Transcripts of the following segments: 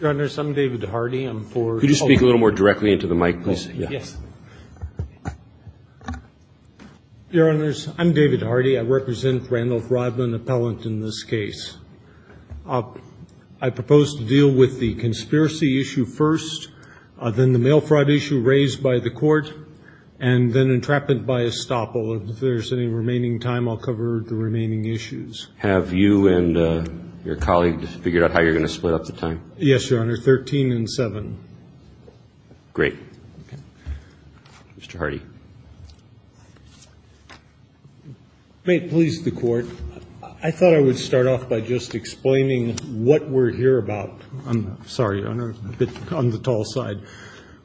Your Honors, I'm David Hardy. I represent Randolph Rodman, appellant in this case. I propose to deal with the conspiracy issue first, then the mail fraud issue raised by the court, and then entrapment by estoppel. If there's any remaining time, I'll cover the remaining issues. Have you and your colleague figured out how you're going to split up the time? Yes, Your Honor, 13 and 7. Great. Mr. Hardy. May it please the Court, I thought I would start off by just explaining what we're here about. I'm sorry, Your Honor, a bit on the tall side.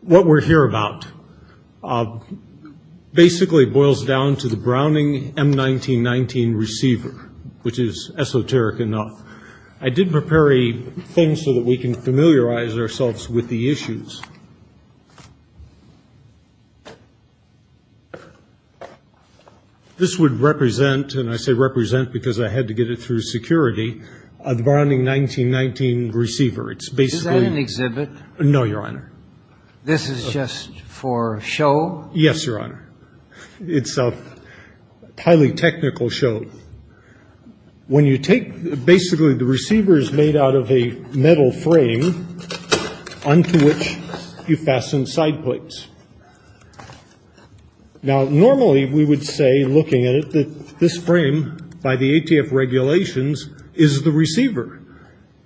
What we're here about basically boils down to the Browning M1919 receiver, which is esoteric enough. I did prepare a thing so that we can familiarize ourselves with the issues. This would represent, and I say represent because I had to get it through security, a Browning M1919 receiver. Is that an exhibit? No, Your Honor. This is just for show? Yes, Your Honor. It's a highly technical show. When you take basically the receiver is made out of a metal frame onto which you fasten side plates. Now, normally we would say, looking at it, that this frame, by the ATF regulations, is the receiver.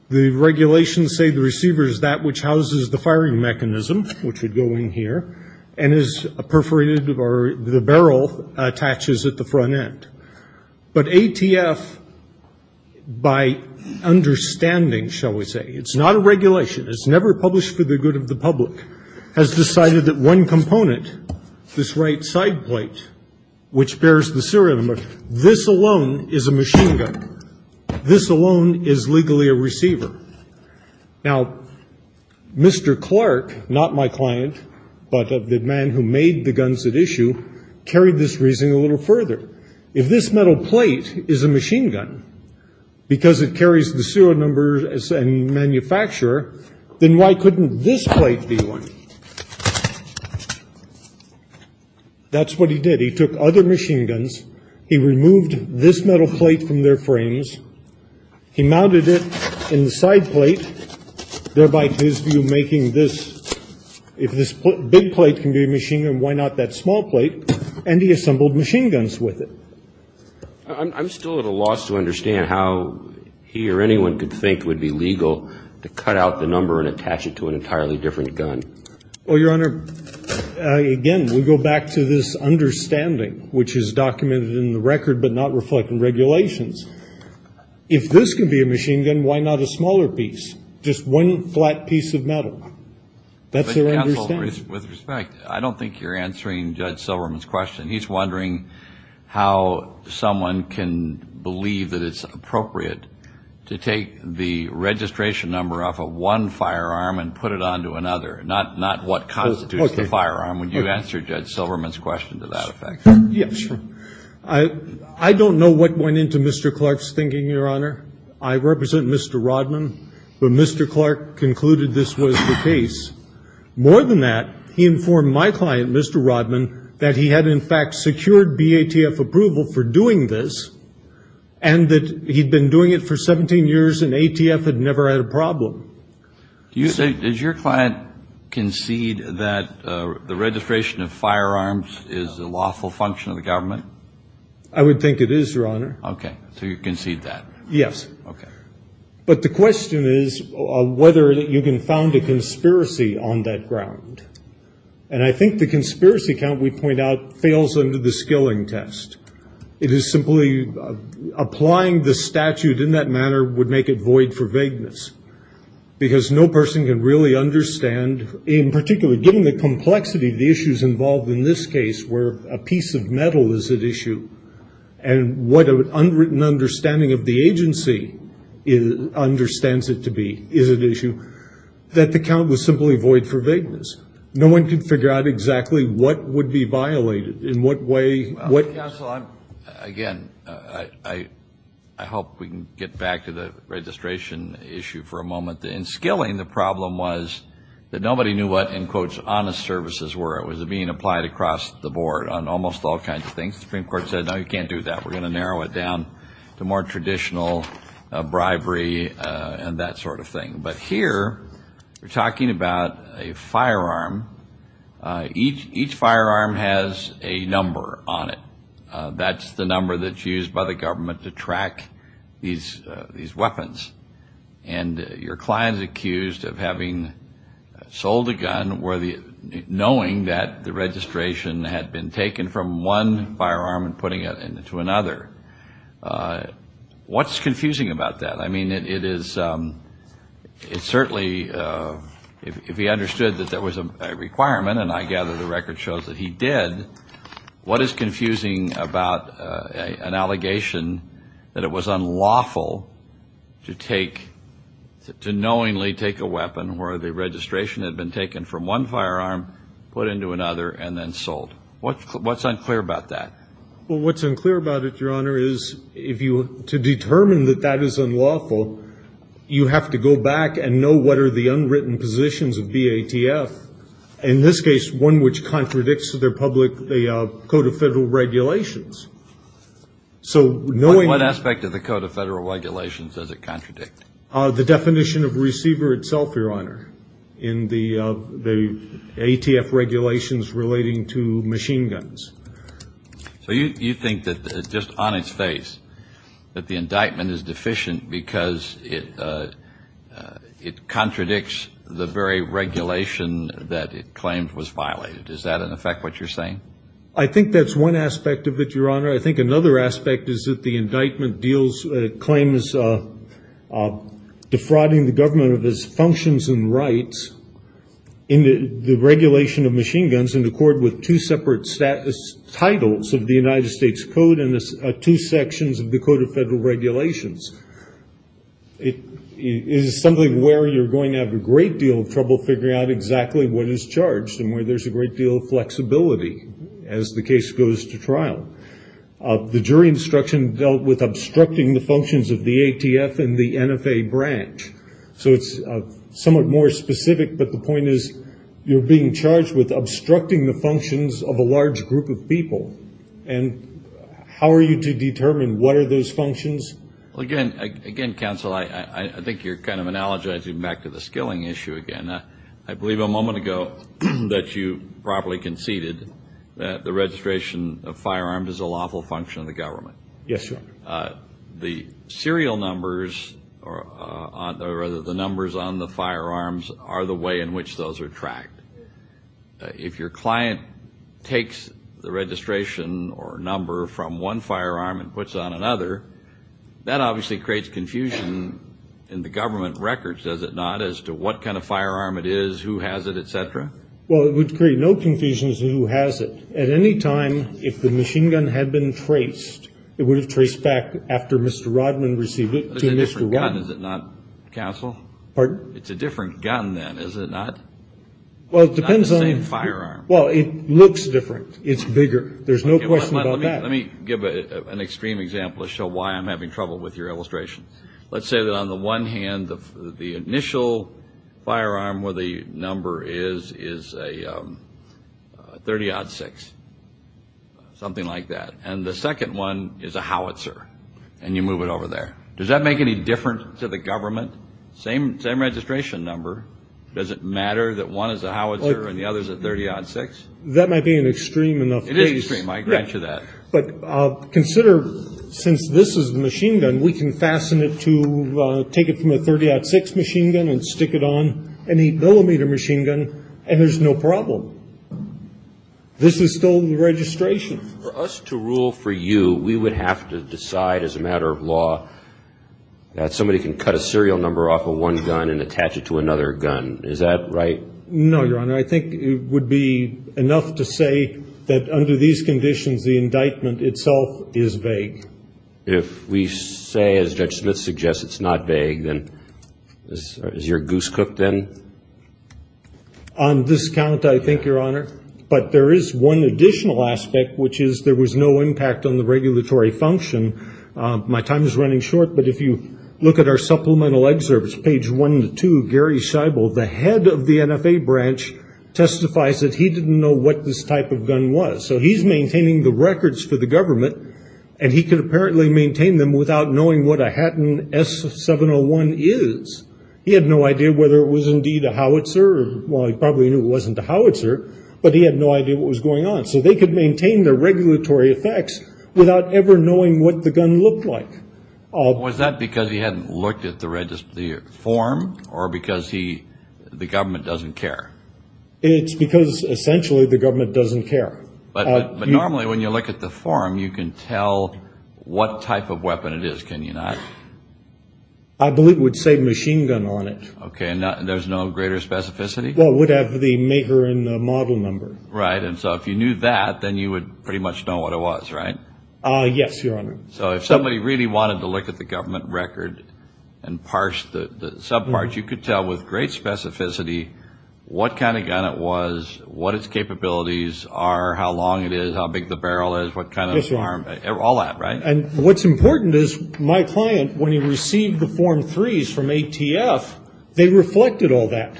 The regulations say the receiver is that which houses the firing mechanism, which would go in here, and is perforated or the barrel attaches at the front end. But ATF, by understanding, shall we say, it's not a regulation, it's never published for the good of the public, has decided that one component, this right side plate, which bears the serial number, this alone is a machine gun. This alone is legally a receiver. Now, Mr. Clark, not my client, but the man who made the guns at issue, carried this reasoning a little further. If this metal plate is a machine gun, because it carries the serial number and manufacturer, then why couldn't this plate be one? That's what he did. He took other machine guns, he removed this metal plate from their frames, he mounted it in the side plate, thereby to his view making this, if this big plate can be a machine gun, why not that small plate, and he assembled machine guns with it. I'm still at a loss to understand how he or anyone could think would be legal to cut out the number and attach it to an entirely different gun. Well, Your Honor, again, we go back to this understanding, which is documented in the record but not reflected in regulations. If this can be a machine gun, why not a smaller piece, just one flat piece of metal? That's their understanding. With respect, I don't think you're answering Judge Silverman's question. He's wondering how someone can believe that it's appropriate to take the registration number off of one firearm and put it onto another, not what constitutes the firearm. Would you answer Judge Silverman's question to that effect? Yes. I don't know what went into Mr. Clark's thinking, Your Honor. I represent Mr. Rodman, but Mr. Clark concluded this was the case. More than that, he informed my client, Mr. Rodman, that he had in fact secured BATF approval for doing this and that he'd been doing it for 17 years and ATF had never had a problem. Did your client concede that the registration of firearms is a lawful function of the government? I would think it is, Your Honor. Okay. So you concede that? Yes. Okay. But the question is whether you can found a conspiracy on that ground. And I think the conspiracy count we point out fails under the skilling test. It is simply applying the statute in that manner would make it void for vagueness because no person can really understand, given the complexity of the issues involved in this case where a piece of metal is at issue and what an unwritten understanding of the agency understands it to be is at issue, that the count was simply void for vagueness. No one can figure out exactly what would be violated in what way. Counsel, again, I hope we can get back to the registration issue for a moment. In skilling, the problem was that nobody knew what, in quotes, honest services were. It was being applied across the board on almost all kinds of things. The Supreme Court said, no, you can't do that. We're going to narrow it down to more traditional bribery and that sort of thing. But here we're talking about a firearm. Each firearm has a number on it. That's the number that's used by the government to track these weapons. And your client is accused of having sold a gun knowing that the registration had been taken from one firearm and putting it into another. What's confusing about that? I mean, it is certainly, if he understood that there was a requirement, and I gather the record shows that he did, what is confusing about an allegation that it was unlawful to take, to knowingly take a weapon where the registration had been taken from one firearm, put into another, and then sold? What's unclear about that? Well, what's unclear about it, Your Honor, is if you, to determine that that is unlawful, you have to go back and know what are the unwritten positions of BATF. In this case, one which contradicts their public, the Code of Federal Regulations. What aspect of the Code of Federal Regulations does it contradict? The definition of receiver itself, Your Honor, in the ATF regulations relating to machine guns. So you think that, just on its face, that the indictment is deficient because it contradicts the very regulation that it claimed was violated. Is that, in effect, what you're saying? I think that's one aspect of it, Your Honor. I think another aspect is that the indictment claims defrauding the government of its functions and rights in the regulation of machine guns is in accord with two separate titles of the United States Code and two sections of the Code of Federal Regulations. It is something where you're going to have a great deal of trouble figuring out exactly what is charged and where there's a great deal of flexibility as the case goes to trial. The jury instruction dealt with obstructing the functions of the ATF and the NFA branch. So it's somewhat more specific, but the point is you're being charged with obstructing the functions of a large group of people. And how are you to determine what are those functions? Again, counsel, I think you're kind of analogizing back to the skilling issue again. I believe a moment ago that you properly conceded that the registration of firearms is a lawful function of the government. Yes, Your Honor. The serial numbers or rather the numbers on the firearms are the way in which those are tracked. If your client takes the registration or number from one firearm and puts it on another, that obviously creates confusion in the government records, does it not, as to what kind of firearm it is, who has it, et cetera? Well, it would create no confusion as to who has it. At any time, if the machine gun had been traced, it would have traced back after Mr. Rodman received it to Mr. Rodman. But it's a different gun, is it not, counsel? Pardon? It's a different gun then, is it not? Well, it depends on the same firearm. Well, it looks different. It's bigger. There's no question about that. Let me give an extreme example to show why I'm having trouble with your illustration. Let's say that on the one hand, the initial firearm where the number is is a .30-06, something like that. And the second one is a Howitzer, and you move it over there. Does that make any difference to the government? Same registration number. Does it matter that one is a Howitzer and the other is a .30-06? That might be an extreme enough case. It is extreme, I grant you that. But consider, since this is a machine gun, we can fasten it to take it from a .30-06 machine gun and stick it on any millimeter machine gun, and there's no problem. This is still the registration. For us to rule for you, we would have to decide as a matter of law that somebody can cut a serial number off of one gun and attach it to another gun. Is that right? No, Your Honor. And I think it would be enough to say that under these conditions, the indictment itself is vague. If we say, as Judge Smith suggests, it's not vague, then is your goose cooked then? On this count, I think, Your Honor. But there is one additional aspect, which is there was no impact on the regulatory function. My time is running short, but if you look at our supplemental excerpts, Gary Scheibel, the head of the NFA branch, testifies that he didn't know what this type of gun was. So he's maintaining the records for the government, and he could apparently maintain them without knowing what a Hatton S701 is. He had no idea whether it was indeed a howitzer. Well, he probably knew it wasn't a howitzer, but he had no idea what was going on. So they could maintain the regulatory effects without ever knowing what the gun looked like. Was that because he hadn't looked at the form, or because the government doesn't care? It's because essentially the government doesn't care. But normally when you look at the form, you can tell what type of weapon it is, can you not? I believe it would say machine gun on it. Okay, and there's no greater specificity? Well, it would have the maker and the model number. Right, and so if you knew that, then you would pretty much know what it was, right? Yes, Your Honor. So if somebody really wanted to look at the government record and parse the subparts, you could tell with great specificity what kind of gun it was, what its capabilities are, how long it is, how big the barrel is, what kind of arm, all that, right? And what's important is my client, when he received the Form 3s from ATF, they reflected all that.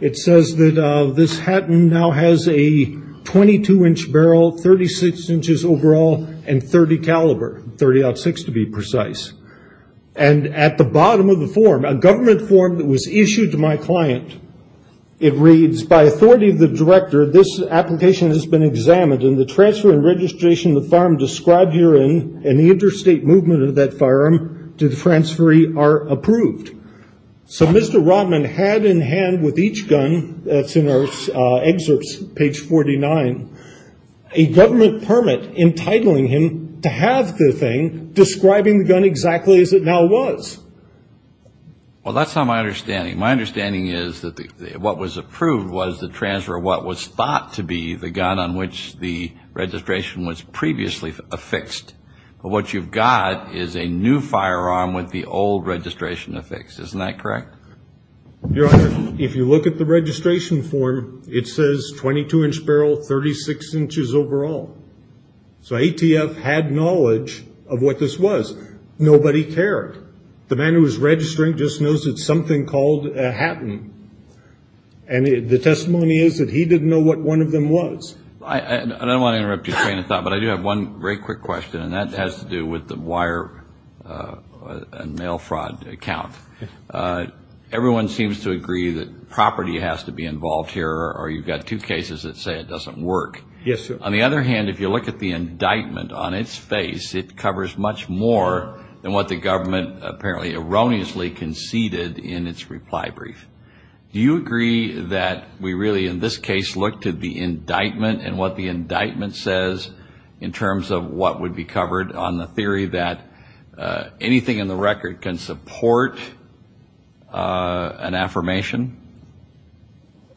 It says that this Hatton now has a 22-inch barrel, 36 inches overall, and .30 caliber, .30-06 to be precise. And at the bottom of the form, a government form that was issued to my client, it reads, by authority of the director, this application has been examined, and the transfer and registration of the firearm described herein and the interstate movement of that firearm to the transferee are approved. So Mr. Rotman had in hand with each gun, that's in our excerpts, page 49, a government permit entitling him to have the thing describing the gun exactly as it now was. Well, that's not my understanding. My understanding is that what was approved was the transfer of what was thought to be the gun on which the registration was previously affixed. But what you've got is a new firearm with the old registration affixed. Isn't that correct? Your Honor, if you look at the registration form, it says 22-inch barrel, 36 inches overall. So ATF had knowledge of what this was. Nobody cared. The man who was registering just knows it's something called a Hatton. And the testimony is that he didn't know what one of them was. I don't want to interrupt your train of thought, but I do have one very quick question, and that has to do with the wire and mail fraud account. Everyone seems to agree that property has to be involved here, or you've got two cases that say it doesn't work. Yes, sir. On the other hand, if you look at the indictment on its face, it covers much more than what the government apparently erroneously conceded in its reply brief. Do you agree that we really in this case look to the indictment and what the indictment says in terms of what would be covered on the theory that anything in the record can support an affirmation?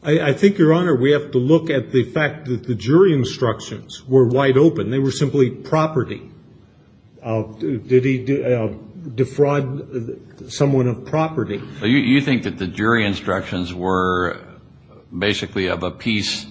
I think, Your Honor, we have to look at the fact that the jury instructions were wide open. They were simply property. Did he defraud someone of property? You think that the jury instructions were basically of a piece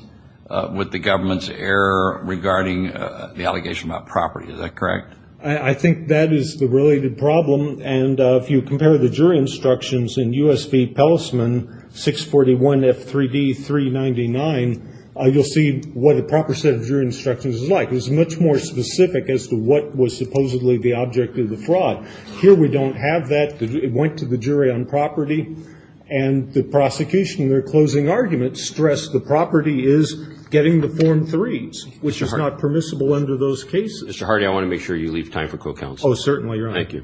with the government's error regarding the allegation about property. Is that correct? I think that is the related problem. And if you compare the jury instructions in U.S. v. Pellisman 641 F3D 399, you'll see what a proper set of jury instructions is like. It's much more specific as to what was supposedly the object of the fraud. Here we don't have that. It went to the jury on property. And the prosecution in their closing argument stressed the property is getting the Form 3s, which is not permissible under those cases. Mr. Hardy, I want to make sure you leave time for co-counsel. Oh, certainly, Your Honor. Thank you.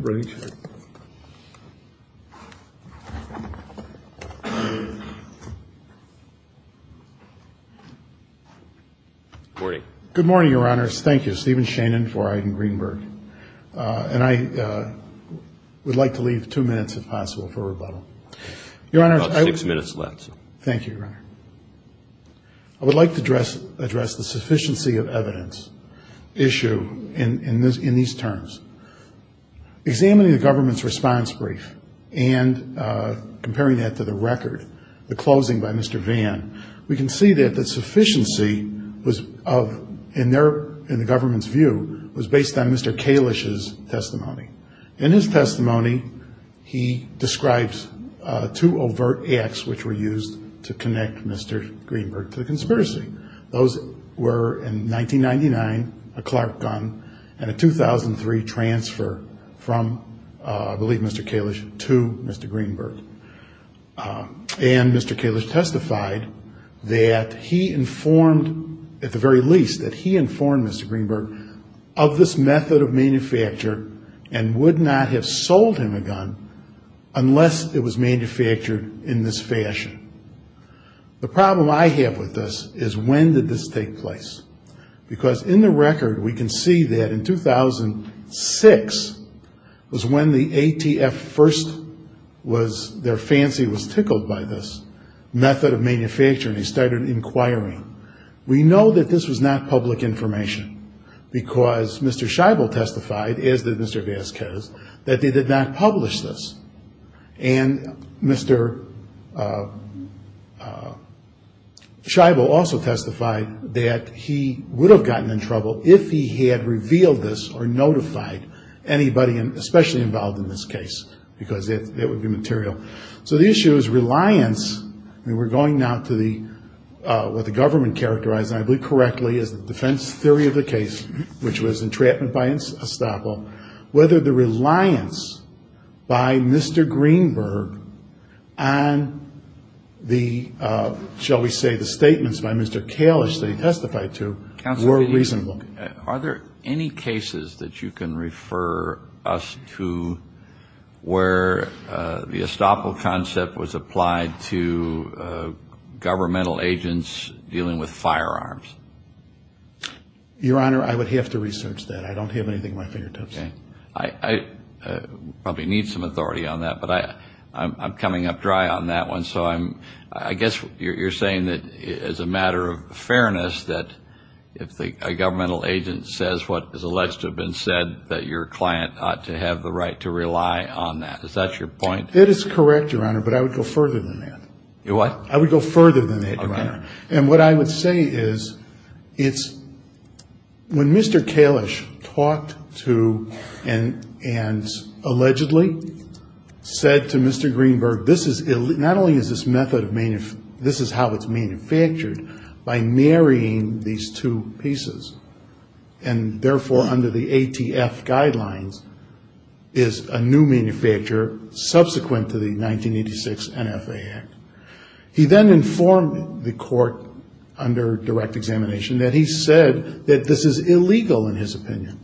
Good morning. Good morning, Your Honors. Thank you. I'm Stephen Shannon for Iden Greenberg. And I would like to leave two minutes, if possible, for rebuttal. About six minutes left. Thank you, Your Honor. I would like to address the sufficiency of evidence issue in these terms. Examining the government's response brief and comparing that to the record, the closing by Mr. Vann, we can see that the sufficiency was of, in the government's view, was based on Mr. Kalish's testimony. In his testimony, he describes two overt acts which were used to connect Mr. Greenberg to the conspiracy. Those were, in 1999, a Clark gun and a 2003 transfer from, I believe, Mr. Kalish to Mr. Greenberg. And Mr. Kalish testified that he informed, at the very least, that he informed Mr. Greenberg of this method of manufacture and would not have sold him a gun unless it was manufactured in this fashion. The problem I have with this is when did this take place? Because in the record, we can see that in 2006 was when the ATF first was, their fancy was tickled by this method of manufacturing. They started inquiring. We know that this was not public information because Mr. Scheibel testified, as did Mr. Vasquez, that they did not publish this. And Mr. Scheibel also testified that he would have gotten in trouble if he had revealed this or notified anybody, especially involved in this case, because it would be material. So the issue is reliance. We're going now to what the government characterized, I believe correctly, as the defense theory of the case, which was entrapment by estoppel, whether the reliance by Mr. Greenberg on the, shall we say, the statements by Mr. Kalish that he testified to were reasonable. Are there any cases that you can refer us to where the estoppel concept was applied to governmental agents dealing with firearms? Your Honor, I would have to research that. I don't have anything at my fingertips. Okay. I probably need some authority on that, but I'm coming up dry on that one. So I guess you're saying that as a matter of fairness that if a governmental agent says what is alleged to have been said, that your client ought to have the right to rely on that. Is that your point? That is correct, Your Honor, but I would go further than that. Your what? I would go further than that, Your Honor. And what I would say is it's when Mr. Kalish talked to and allegedly said to Mr. Greenberg, this is not only is this method of, this is how it's manufactured, by marrying these two pieces, and therefore under the ATF guidelines is a new manufacturer subsequent to the 1986 NFA Act. He then informed the court under direct examination that he said that this is illegal in his opinion.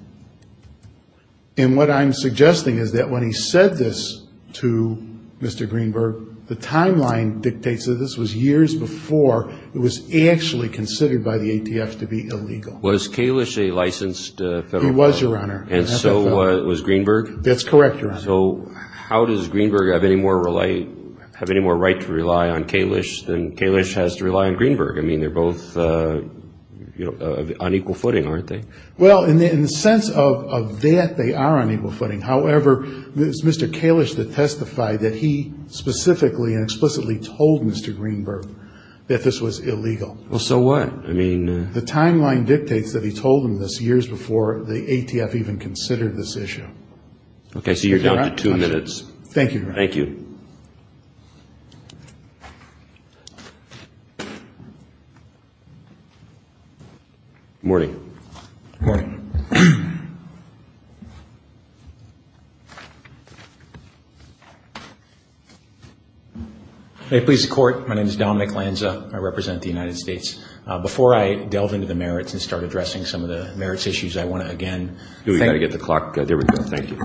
And what I'm suggesting is that when he said this to Mr. Greenberg, the timeline dictates that this was years before it was actually considered by the ATF to be illegal. Was Kalish a licensed federal? He was, Your Honor. And so was Greenberg? That's correct, Your Honor. So how does Greenberg have any more right to rely on Kalish than Kalish has to rely on Greenberg? I mean, they're both on equal footing, aren't they? Well, in the sense of that, they are on equal footing. However, it's Mr. Kalish that testified that he specifically and explicitly told Mr. Greenberg that this was illegal. Well, so what? The timeline dictates that he told him this years before the ATF even considered this issue. Okay, so you're down to two minutes. Thank you, Your Honor. Thank you. Good morning. Good morning. May it please the Court, my name is Don McLanza. I represent the United States. Before I delve into the merits and start addressing some of the merits issues, I want to again thank you. We've got to get the clock going. There we go, thank you.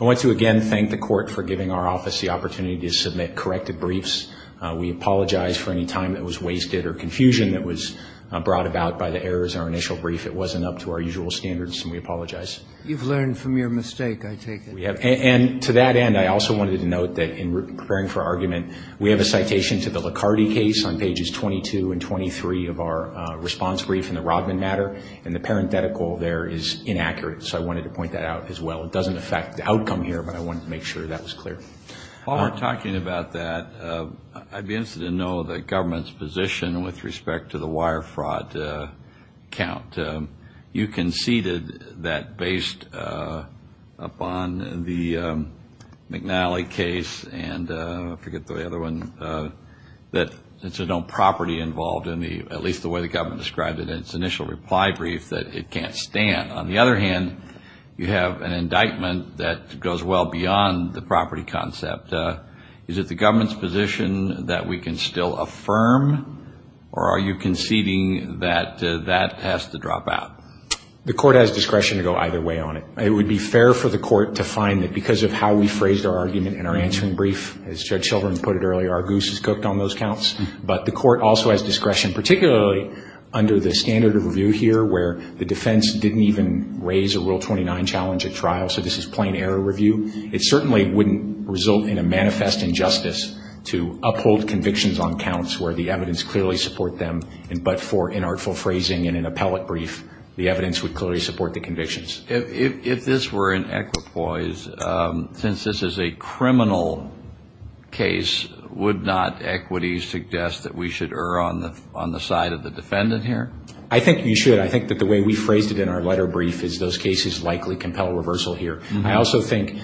I want to again thank the Court for giving our office the opportunity to submit corrected briefs. We apologize for any time that was wasted or confusion that was brought about by the errors in our initial brief. It wasn't up to our usual standards, and we apologize. You've learned from your mistake, I take it. And to that end, I also wanted to note that in preparing for argument, we have a citation to the Licardi case on pages 22 and 23 of our response brief in the Rodman matter, and the parenthetical there is inaccurate. So I wanted to point that out as well. It doesn't affect the outcome here, but I wanted to make sure that was clear. While we're talking about that, I'd be interested to know the government's position with respect to the wire fraud count. You conceded that based upon the McNally case and I forget the other one, that there's no property involved in the, at least the way the government described it in its initial reply brief, that it can't stand. On the other hand, you have an indictment that goes well beyond the property concept. Is it the government's position that we can still affirm, or are you conceding that that has to drop out? The court has discretion to go either way on it. It would be fair for the court to find that because of how we phrased our argument in our answering brief, as Judge Sheldon put it earlier, our goose is cooked on those counts. But the court also has discretion, particularly under the standard of review here, where the defense didn't even raise a Rule 29 challenge at trial, so this is plain error review. It certainly wouldn't result in a manifest injustice to uphold convictions on counts where the evidence clearly supports them, but for inartful phrasing in an appellate brief, the evidence would clearly support the convictions. If this were an equipoise, since this is a criminal case, would not equity suggest that we should err on the side of the defendant here? I think you should. I think that the way we phrased it in our letter brief is those cases likely compel reversal here. I also think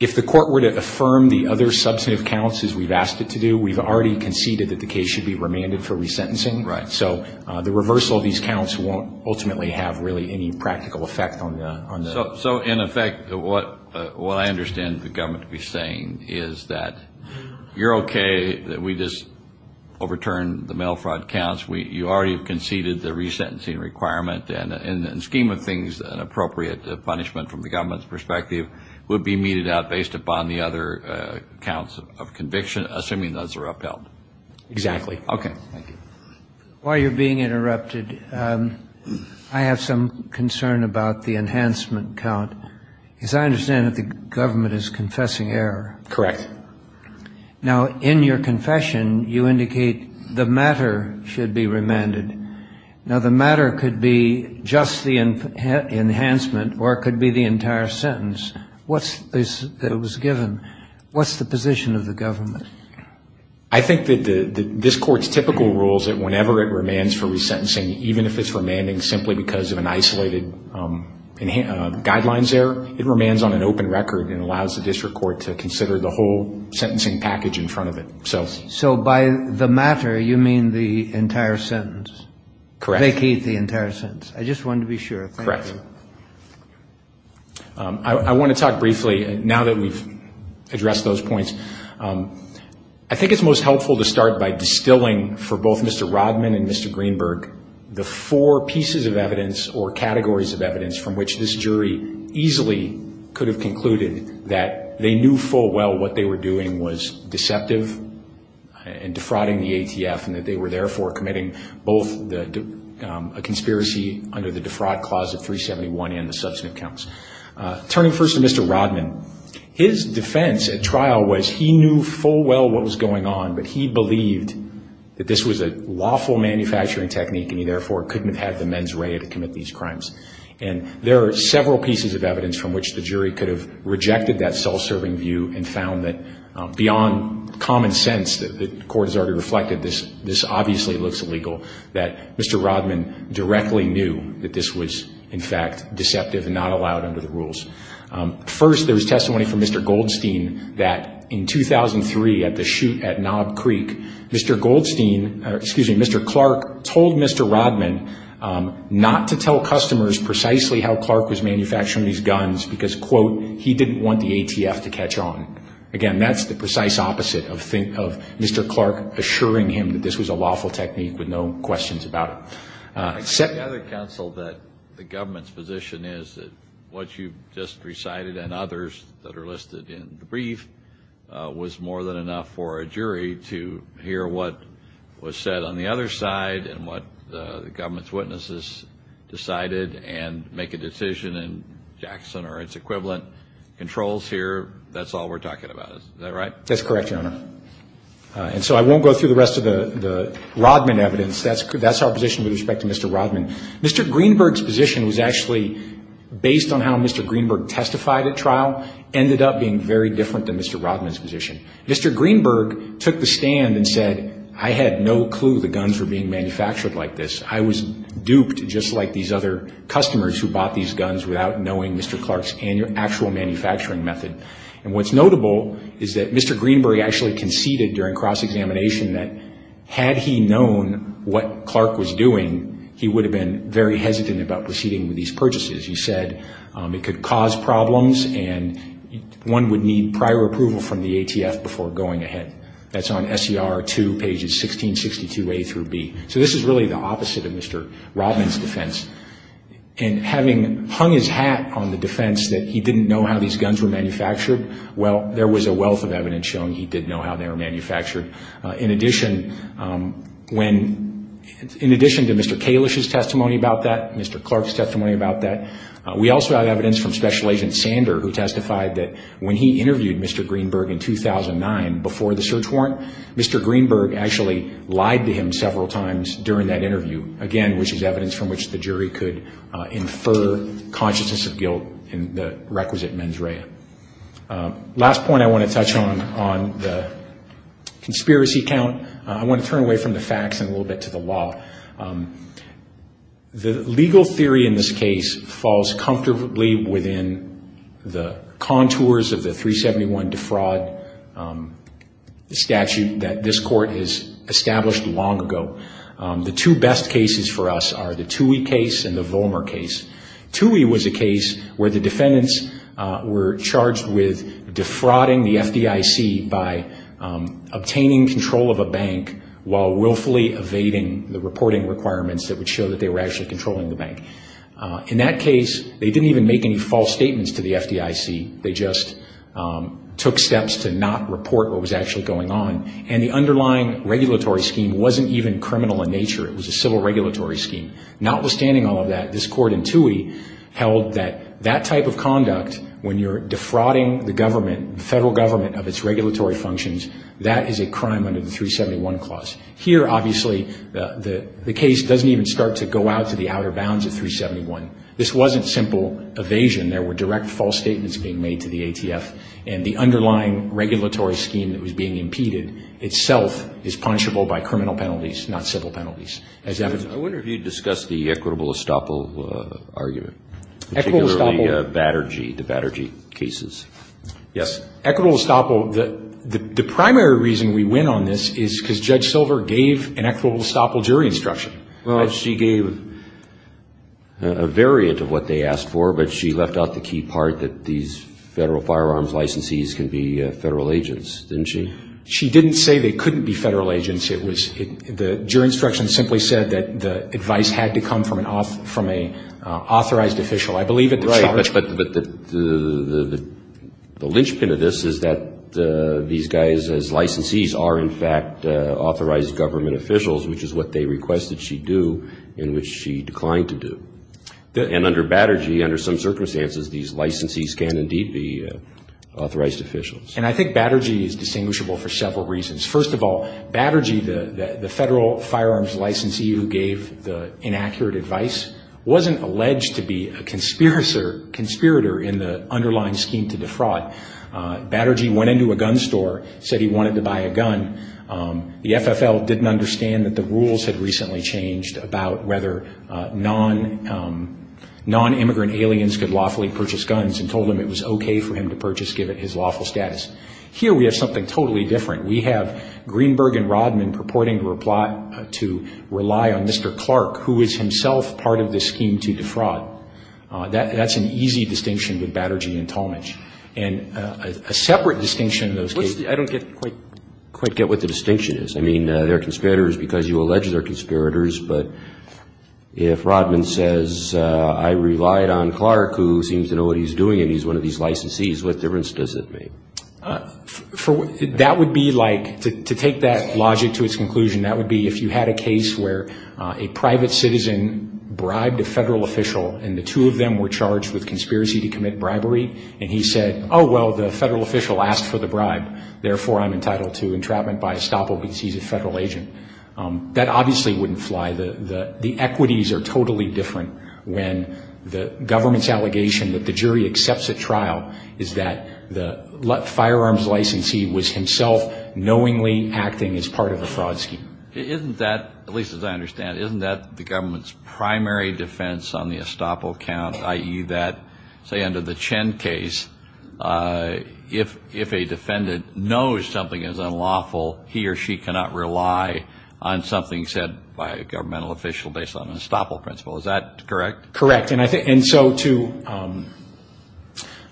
if the court were to affirm the other substantive counts as we've asked it to do, we've already conceded that the case should be remanded for resentencing. Right. So the reversal of these counts won't ultimately have really any practical effect on the ---- So, in effect, what I understand the government to be saying is that you're okay, that we just overturn the mail fraud counts. You already conceded the resentencing requirement, and in the scheme of things an appropriate punishment from the government's perspective would be meted out based upon the other counts of conviction, assuming those are upheld. Exactly. Okay. Thank you. While you're being interrupted, I have some concern about the enhancement count, because I understand that the government is confessing error. Correct. Now, in your confession, you indicate the matter should be remanded. Now, the matter could be just the enhancement or it could be the entire sentence. What's this that was given? What's the position of the government? I think that this Court's typical rule is that whenever it remands for resentencing, even if it's remanding simply because of an isolated guidelines error, it remands on an open record and allows the district court to consider the whole sentencing package in front of it. So by the matter, you mean the entire sentence. Correct. Vacate the entire sentence. I just wanted to be sure. Correct. I want to talk briefly, now that we've addressed those points. I think it's most helpful to start by distilling for both Mr. Rodman and Mr. Greenberg the four pieces of evidence or categories of evidence from which this jury easily could have concluded that they knew full well what they were doing was deceptive in defrauding the ATF and that they were therefore committing both a conspiracy under the defraud clause of 371 and the substantive counts. Turning first to Mr. Rodman, his defense at trial was he knew full well what was going on, but he believed that this was a lawful manufacturing technique and he therefore couldn't have had the mens rea to commit these crimes. And there are several pieces of evidence from which the jury could have rejected that self-serving view and found that beyond common sense that the court has already reflected, this obviously looks illegal, that Mr. Rodman directly knew that this was, in fact, deceptive and not allowed under the rules. First, there was testimony from Mr. Goldstein that in 2003 at the shoot at Knob Creek, Mr. Goldstein, excuse me, Mr. Clark, told Mr. Rodman not to tell customers precisely how Clark was manufacturing these guns because, quote, he didn't want the ATF to catch on. Again, that's the precise opposite of Mr. Clark assuring him that this was a lawful technique with no questions about it. I gather, counsel, that the government's position is that what you've just recited and others that are listed in the brief was more than enough for a jury to hear what was said on the other side and what the government's witnesses decided and make a decision in Jackson or its equivalent controls here. That's all we're talking about. Is that right? That's correct, Your Honor. And so I won't go through the rest of the Rodman evidence. That's our position with respect to Mr. Rodman. Mr. Greenberg's position was actually, based on how Mr. Greenberg testified at trial, ended up being very different than Mr. Rodman's position. Mr. Greenberg took the stand and said, I had no clue the guns were being manufactured like this. I was duped just like these other customers who bought these guns without knowing Mr. Clark's actual manufacturing method. And what's notable is that Mr. Greenberg actually conceded during cross-examination that had he known what Clark was doing, he would have been very hesitant about proceeding with these purchases. He said it could cause problems and one would need prior approval from the ATF before going ahead. That's on SER 2, pages 1662A through B. So this is really the opposite of Mr. Rodman's defense. And having hung his hat on the defense that he didn't know how these guns were manufactured, well, there was a wealth of evidence showing he didn't know how they were manufactured. In addition to Mr. Kalish's testimony about that, Mr. Clark's testimony about that, we also have evidence from Special Agent Sander who testified that when he interviewed Mr. Greenberg in 2009, before the search warrant, Mr. Greenberg actually lied to him several times during that interview. Again, which is evidence from which the jury could infer consciousness of guilt in the requisite mens rea. Last point I want to touch on, on the conspiracy count. I want to turn away from the facts and a little bit to the law. The legal theory in this case falls comfortably within the contours of the 371 defraud statute that this court has established long ago. The two best cases for us are the Toohey case and the Vollmer case. Toohey was a case where the defendants were charged with defrauding the FDIC by obtaining control of a bank while willfully evading the reporting requirements that would show that they were actually controlling the bank. In that case, they didn't even make any false statements to the FDIC. They just took steps to not report what was actually going on. And the underlying regulatory scheme wasn't even criminal in nature. It was a civil regulatory scheme. Notwithstanding all of that, this court in Toohey held that that type of conduct, when you're defrauding the government, the federal government of its regulatory functions, that is a crime under the 371 clause. Here, obviously, the case doesn't even start to go out to the outer bounds of 371. This wasn't simple evasion. There were direct false statements being made to the ATF, and the underlying regulatory scheme that was being impeded itself is punishable by criminal penalties, not civil penalties. I wonder if you'd discussed the equitable estoppel argument. Equitable estoppel? Particularly the Batterjee cases. Yes. Equitable estoppel. The primary reason we went on this is because Judge Silver gave an equitable estoppel jury instruction. Well, she gave a variant of what they asked for, but she left out the key part that these federal firearms licensees can be federal agents, didn't she? She didn't say they couldn't be federal agents. It was the jury instruction simply said that the advice had to come from an authorized official. I believe at the charge. Right, but the linchpin of this is that these guys as licensees are, in fact, authorized government officials, which is what they requested she do and which she declined to do. And under Batterjee, under some circumstances, these licensees can indeed be authorized officials. And I think Batterjee is distinguishable for several reasons. First of all, Batterjee, the federal firearms licensee who gave the inaccurate advice, wasn't alleged to be a conspirator in the underlying scheme to defraud. Batterjee went into a gun store, said he wanted to buy a gun. The FFL didn't understand that the rules had recently changed about whether non-immigrant aliens could lawfully purchase guns and told him it was okay for him to purchase given his lawful status. Here we have something totally different. We have Greenberg and Rodman purporting to rely on Mr. Clark, who is himself part of the scheme to defraud. That's an easy distinction with Batterjee and Tallmadge. And a separate distinction in those cases. I don't quite get what the distinction is. I mean, they're conspirators because you allege they're conspirators, but if Rodman says I relied on Clark, who seems to know what he's doing, and he's one of these licensees, what difference does it make? That would be like, to take that logic to its conclusion, that would be if you had a case where a private citizen bribed a federal official and the two of them were charged with conspiracy to commit bribery, and he said, oh, well, the federal official asked for the bribe, therefore I'm entitled to entrapment by estoppel because he's a federal agent. That obviously wouldn't fly. The equities are totally different when the government's allegation that the jury accepts a trial is that the firearms licensee was himself knowingly acting as part of a fraud scheme. Isn't that, at least as I understand it, isn't that the government's primary defense on the estoppel count, i.e., that say under the Chen case, if a defendant knows something is unlawful, he or she cannot rely on something said by a governmental official based on an estoppel principle. Is that correct? Correct. And so to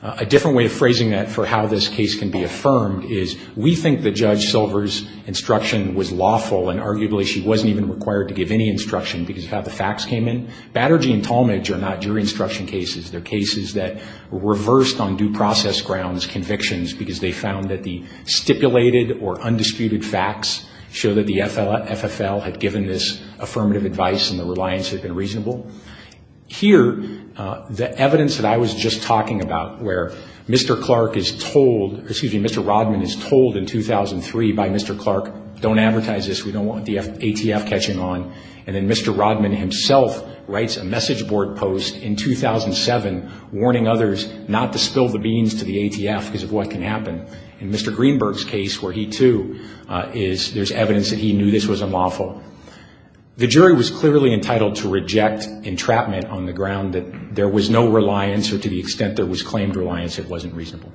a different way of phrasing that for how this case can be affirmed is, we think that Judge Silver's instruction was lawful, and arguably she wasn't even required to give any instruction because of how the facts came in. Batterji and Talmadge are not jury instruction cases. They're cases that reversed on due process grounds convictions because they found that the stipulated or undisputed facts show that the FFL had given this affirmative advice and the reliance had been reasonable. Here, the evidence that I was just talking about where Mr. Clark is told, excuse me, Mr. Rodman is told in 2003 by Mr. Clark, don't advertise this. We don't want the ATF catching on. And then Mr. Rodman himself writes a message board post in 2007 warning others not to spill the beans to the ATF because of what can happen. In Mr. Greenberg's case where he too is, there's evidence that he knew this was unlawful. The jury was clearly entitled to reject entrapment on the ground that there was no reliance or to the extent there was claimed reliance, it wasn't reasonable.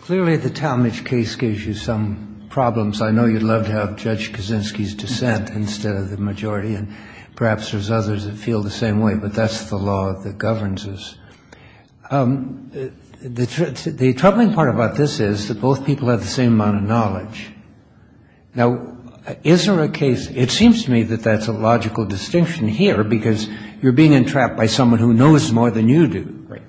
Clearly, the Talmadge case gives you some problems. I know you'd love to have Judge Kaczynski's dissent instead of the majority, and perhaps there's others that feel the same way, but that's the law that governs us. The troubling part about this is that both people have the same amount of knowledge. Now, is there a case, it seems to me that that's a logical distinction here because you're being entrapped by someone who knows more than you do. Right.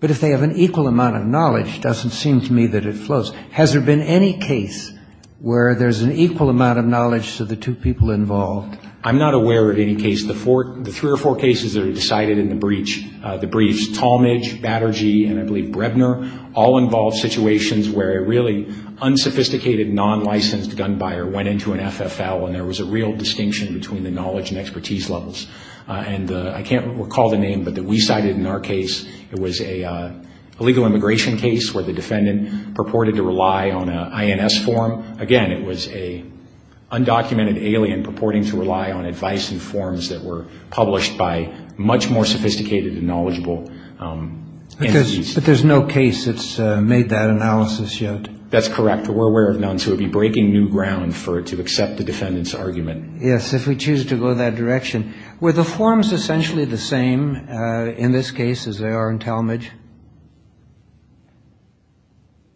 But if they have an equal amount of knowledge, it doesn't seem to me that it flows. Has there been any case where there's an equal amount of knowledge to the two people involved? I'm not aware of any case. The three or four cases that are decided in the briefs, Talmadge, Batterji, and I believe Brebner, all involve situations where a really unsophisticated, non-licensed gun buyer went into an FFL and there was a real distinction between the knowledge and expertise levels. I can't recall the name, but we cited in our case, it was an illegal immigration case where the defendant purported to rely on an INS form. Again, it was an undocumented alien purporting to rely on advice and forms that were published by much more sophisticated and knowledgeable entities. But there's no case that's made that analysis yet. That's correct. But we're aware of none, so it would be breaking new ground for it to accept the defendant's argument. Yes, if we choose to go that direction. Were the forms essentially the same in this case as they are in Talmadge,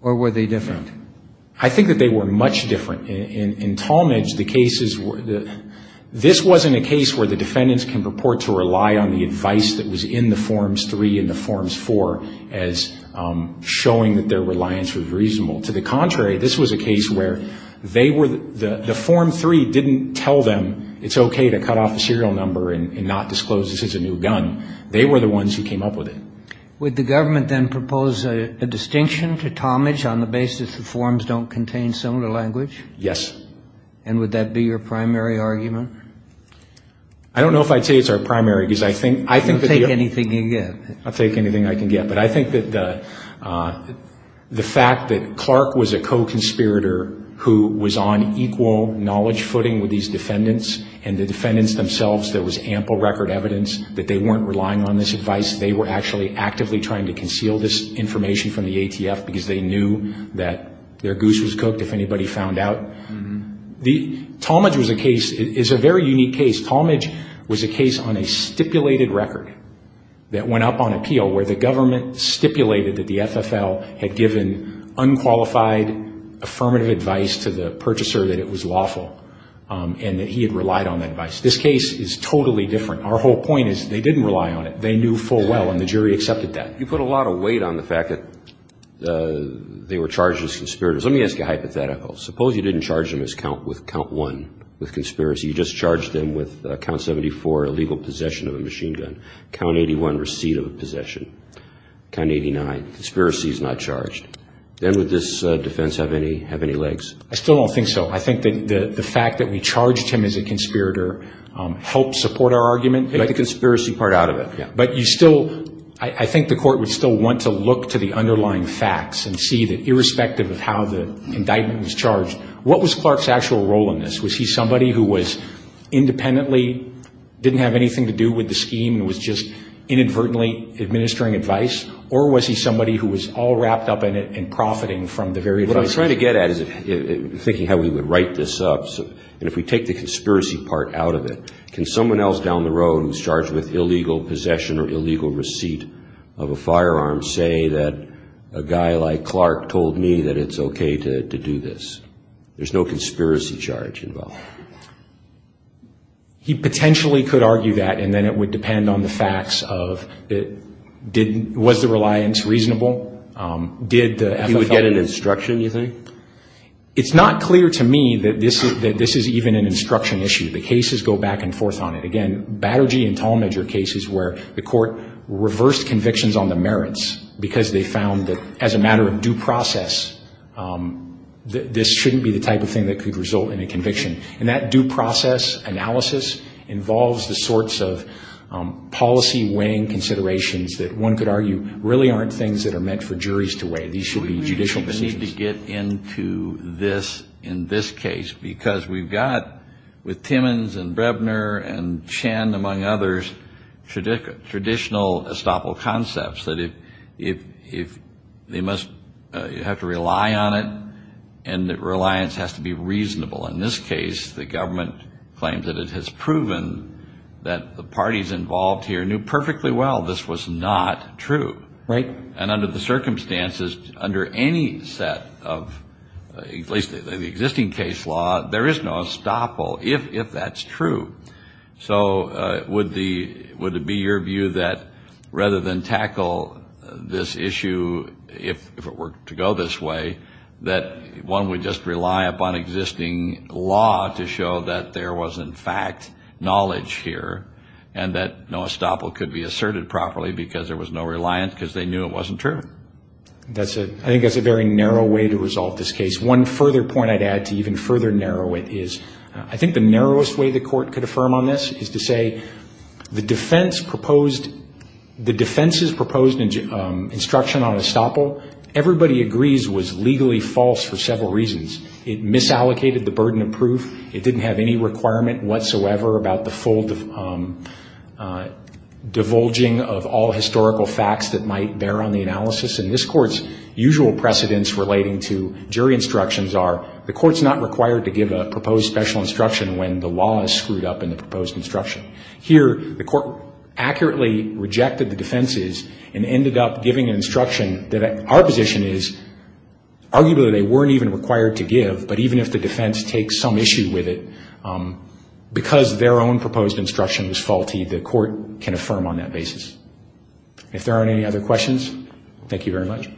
or were they different? I think that they were much different. In Talmadge, the cases were, this wasn't a case where the defendants can purport to rely on the advice that was in the forms three and the forms four as showing that their reliance was reasonable. To the contrary, this was a case where they were, the form three didn't tell them it's okay to cut off a serial number and not disclose this is a new gun. They were the ones who came up with it. Would the government then propose a distinction to Talmadge on the basis the forms don't contain similar language? Yes. And would that be your primary argument? I don't know if I'd say it's our primary, because I think that the You'll take anything you get. I'll take anything I can get. But I think that the fact that Clark was a co-conspirator who was on equal knowledge footing with these defendants and the defendants themselves, there was ample record evidence that they weren't relying on this advice, they were actually actively trying to conceal this information from the ATF because they knew that their goose was cooked if anybody found out. Talmadge was a case, it's a very unique case. Talmadge was a case on a stipulated record that went up on appeal where the government stipulated that the FFL had given unqualified affirmative advice to the purchaser that it was lawful and that he had relied on that advice. This case is totally different. Our whole point is they didn't rely on it. They knew full well and the jury accepted that. You put a lot of weight on the fact that they were charged as conspirators. Let me ask you a hypothetical. Suppose you didn't charge them with count one, with conspiracy. You just charged them with count 74, illegal possession of a machine gun. Count 81, receipt of a possession. Count 89, conspiracy is not charged. Then would this defense have any legs? I still don't think so. I think that the fact that we charged him as a conspirator helped support our argument. We didn't take the conspiracy part out of it. But you still, I think the court would still want to look to the underlying facts and see that irrespective of how the indictment was charged, what was Clark's actual role in this? Was he somebody who was independently, didn't have anything to do with the scheme and was just inadvertently administering advice? Or was he somebody who was all wrapped up in it and profiting from the very advice? What I'm trying to get at is thinking how we would write this up. And if we take the conspiracy part out of it, can someone else down the road who's charged with illegal possession or illegal receipt of a firearm say that a guy like Clark told me that it's okay to do this? There's no conspiracy charge involved. He potentially could argue that, and then it would depend on the facts of was the reliance reasonable? Did the FFL? He would get an instruction, you think? It's not clear to me that this is even an instruction issue. The cases go back and forth on it. Again, Batterji and Tallmadger cases where the court reversed convictions on the merits because they found that as a matter of due process, this shouldn't be the type of thing that could result in a conviction. And that due process analysis involves the sorts of policy weighing considerations that one could argue really aren't things that are meant for juries to weigh. These should be judicial decisions. We need to get into this in this case because we've got with Timmons and Brebner and Chen, among others, traditional estoppel concepts that if they must have to rely on it and that reliance has to be reasonable. In this case, the government claims that it has proven that the parties involved here knew perfectly well this was not true. Right. And under the circumstances, under any set of at least the existing case law, there is no estoppel if that's true. So would it be your view that rather than tackle this issue if it were to go this way, that one would just rely upon existing law to show that there was in fact knowledge here and that no estoppel could be asserted properly because there was no reliance because they knew it wasn't true? I think that's a very narrow way to resolve this case. One further point I'd add to even further narrow it is I think the narrowest way the court could affirm on this is to say, the defense's proposed instruction on estoppel, everybody agrees, was legally false for several reasons. It didn't have any requirement whatsoever about the full divulging of all historical facts that might bear on the analysis. And this court's usual precedents relating to jury instructions are, the court's not required to give a proposed special instruction when the law is screwed up in the proposed instruction. Here, the court accurately rejected the defenses and ended up giving an instruction that our position is, arguably they weren't even required to give, but even if the defense takes some issue with it, because their own proposed instruction was faulty, the court can affirm on that basis. If there aren't any other questions, thank you very much.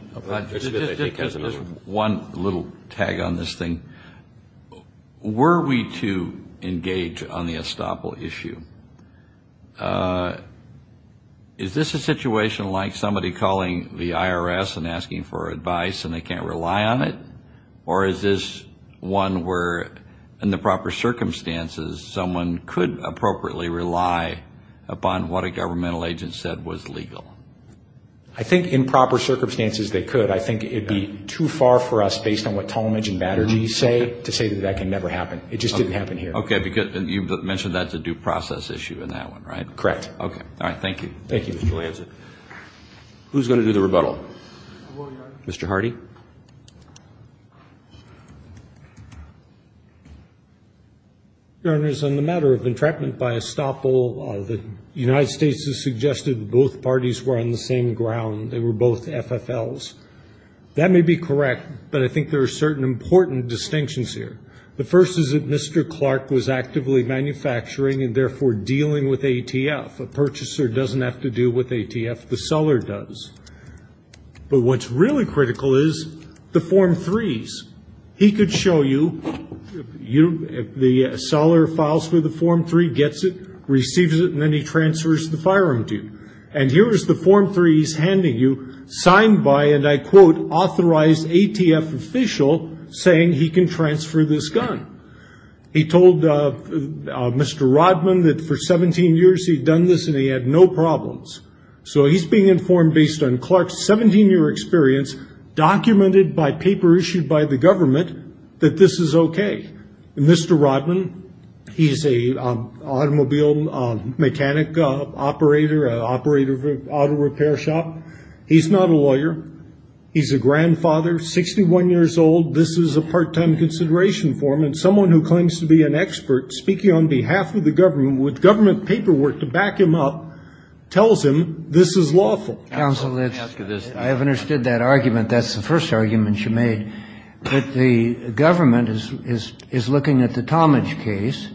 Just one little tag on this thing. Were we to engage on the estoppel issue, is this a situation like somebody calling the IRS and asking for advice and they can't rely on it? Or is this one where, in the proper circumstances, someone could appropriately rely upon what a governmental agent said was legal? I think in proper circumstances they could. I think it would be too far for us, based on what Talmadge and Batterji say, to say that that can never happen. It just didn't happen here. Okay. You mentioned that's a due process issue in that one, right? Correct. Okay. All right. Thank you. Thank you, Mr. Lanza. Who's going to do the rebuttal? Mr. Hardy. Your Honors, on the matter of entrapment by estoppel, the United States has suggested both parties were on the same ground. They were both FFLs. That may be correct, but I think there are certain important distinctions here. The first is that Mr. Clark was actively manufacturing and therefore dealing with ATF. A purchaser doesn't have to do with ATF. The seller does. But what's really critical is the Form 3s. He could show you, the seller files for the Form 3, gets it, receives it, and then he transfers the firearm to you. And here is the Form 3 he's handing you, signed by an, I quote, authorized ATF official saying he can transfer this gun. He told Mr. Rodman that for 17 years he'd done this and he had no problems. So he's being informed based on Clark's 17-year experience, documented by paper issued by the government, that this is okay. Mr. Rodman, he's an automobile mechanic operator, an operator of an auto repair shop. He's not a lawyer. He's a grandfather, 61 years old. This is a part-time consideration for him. And someone who claims to be an expert, speaking on behalf of the government, with government paperwork to back him up, tells him this is lawful. Kennedy. Counsel, let's ask you this. I have understood that argument. That's the first argument you made. But the government is looking at the Tomage case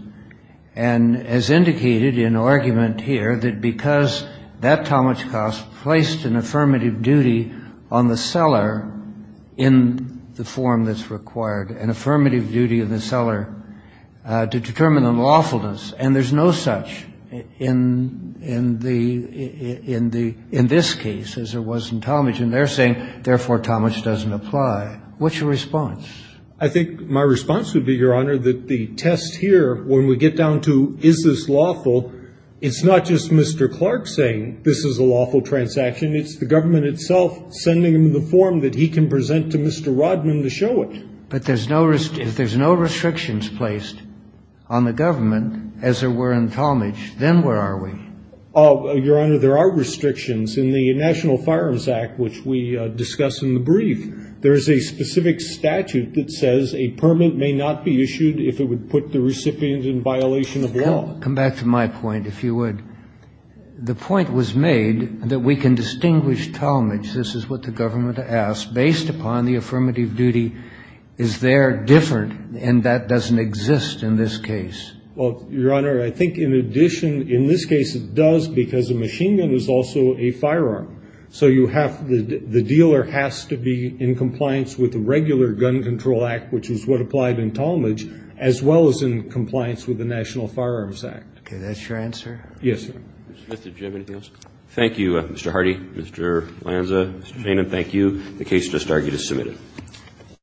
and has indicated in argument here that because that Tomage cost placed an affirmative duty on the seller in the form that's required, an affirmative duty of the seller to determine the lawfulness. And there's no such in this case as there was in Tomage. And they're saying, therefore, Tomage doesn't apply. What's your response? I think my response would be, Your Honor, that the test here, when we get down to is this lawful, it's not just Mr. Clark saying this is a lawful transaction. It's the government itself sending him the form that he can present to Mr. Rodman to show it. But if there's no restrictions placed on the government, as there were in Tomage, then where are we? Your Honor, there are restrictions. In the National Firearms Act, which we discuss in the brief, there is a specific statute that says a permit may not be issued if it would put the recipient in violation of law. Come back to my point, if you would. The point was made that we can distinguish Tomage, this is what the government asked, based upon the affirmative duty. Is there different? And that doesn't exist in this case. Well, Your Honor, I think in addition, in this case it does, because a machine gun is also a firearm. So you have the dealer has to be in compliance with the regular Gun Control Act, which is what applied in Tomage, as well as in compliance with the National Firearms Act. Okay. That's your answer? Yes, Your Honor. Mr. Jim, anything else? Thank you, Mr. Hardy, Mr. Lanza, Mr. Maynard. Thank you. The case just argued is submitted.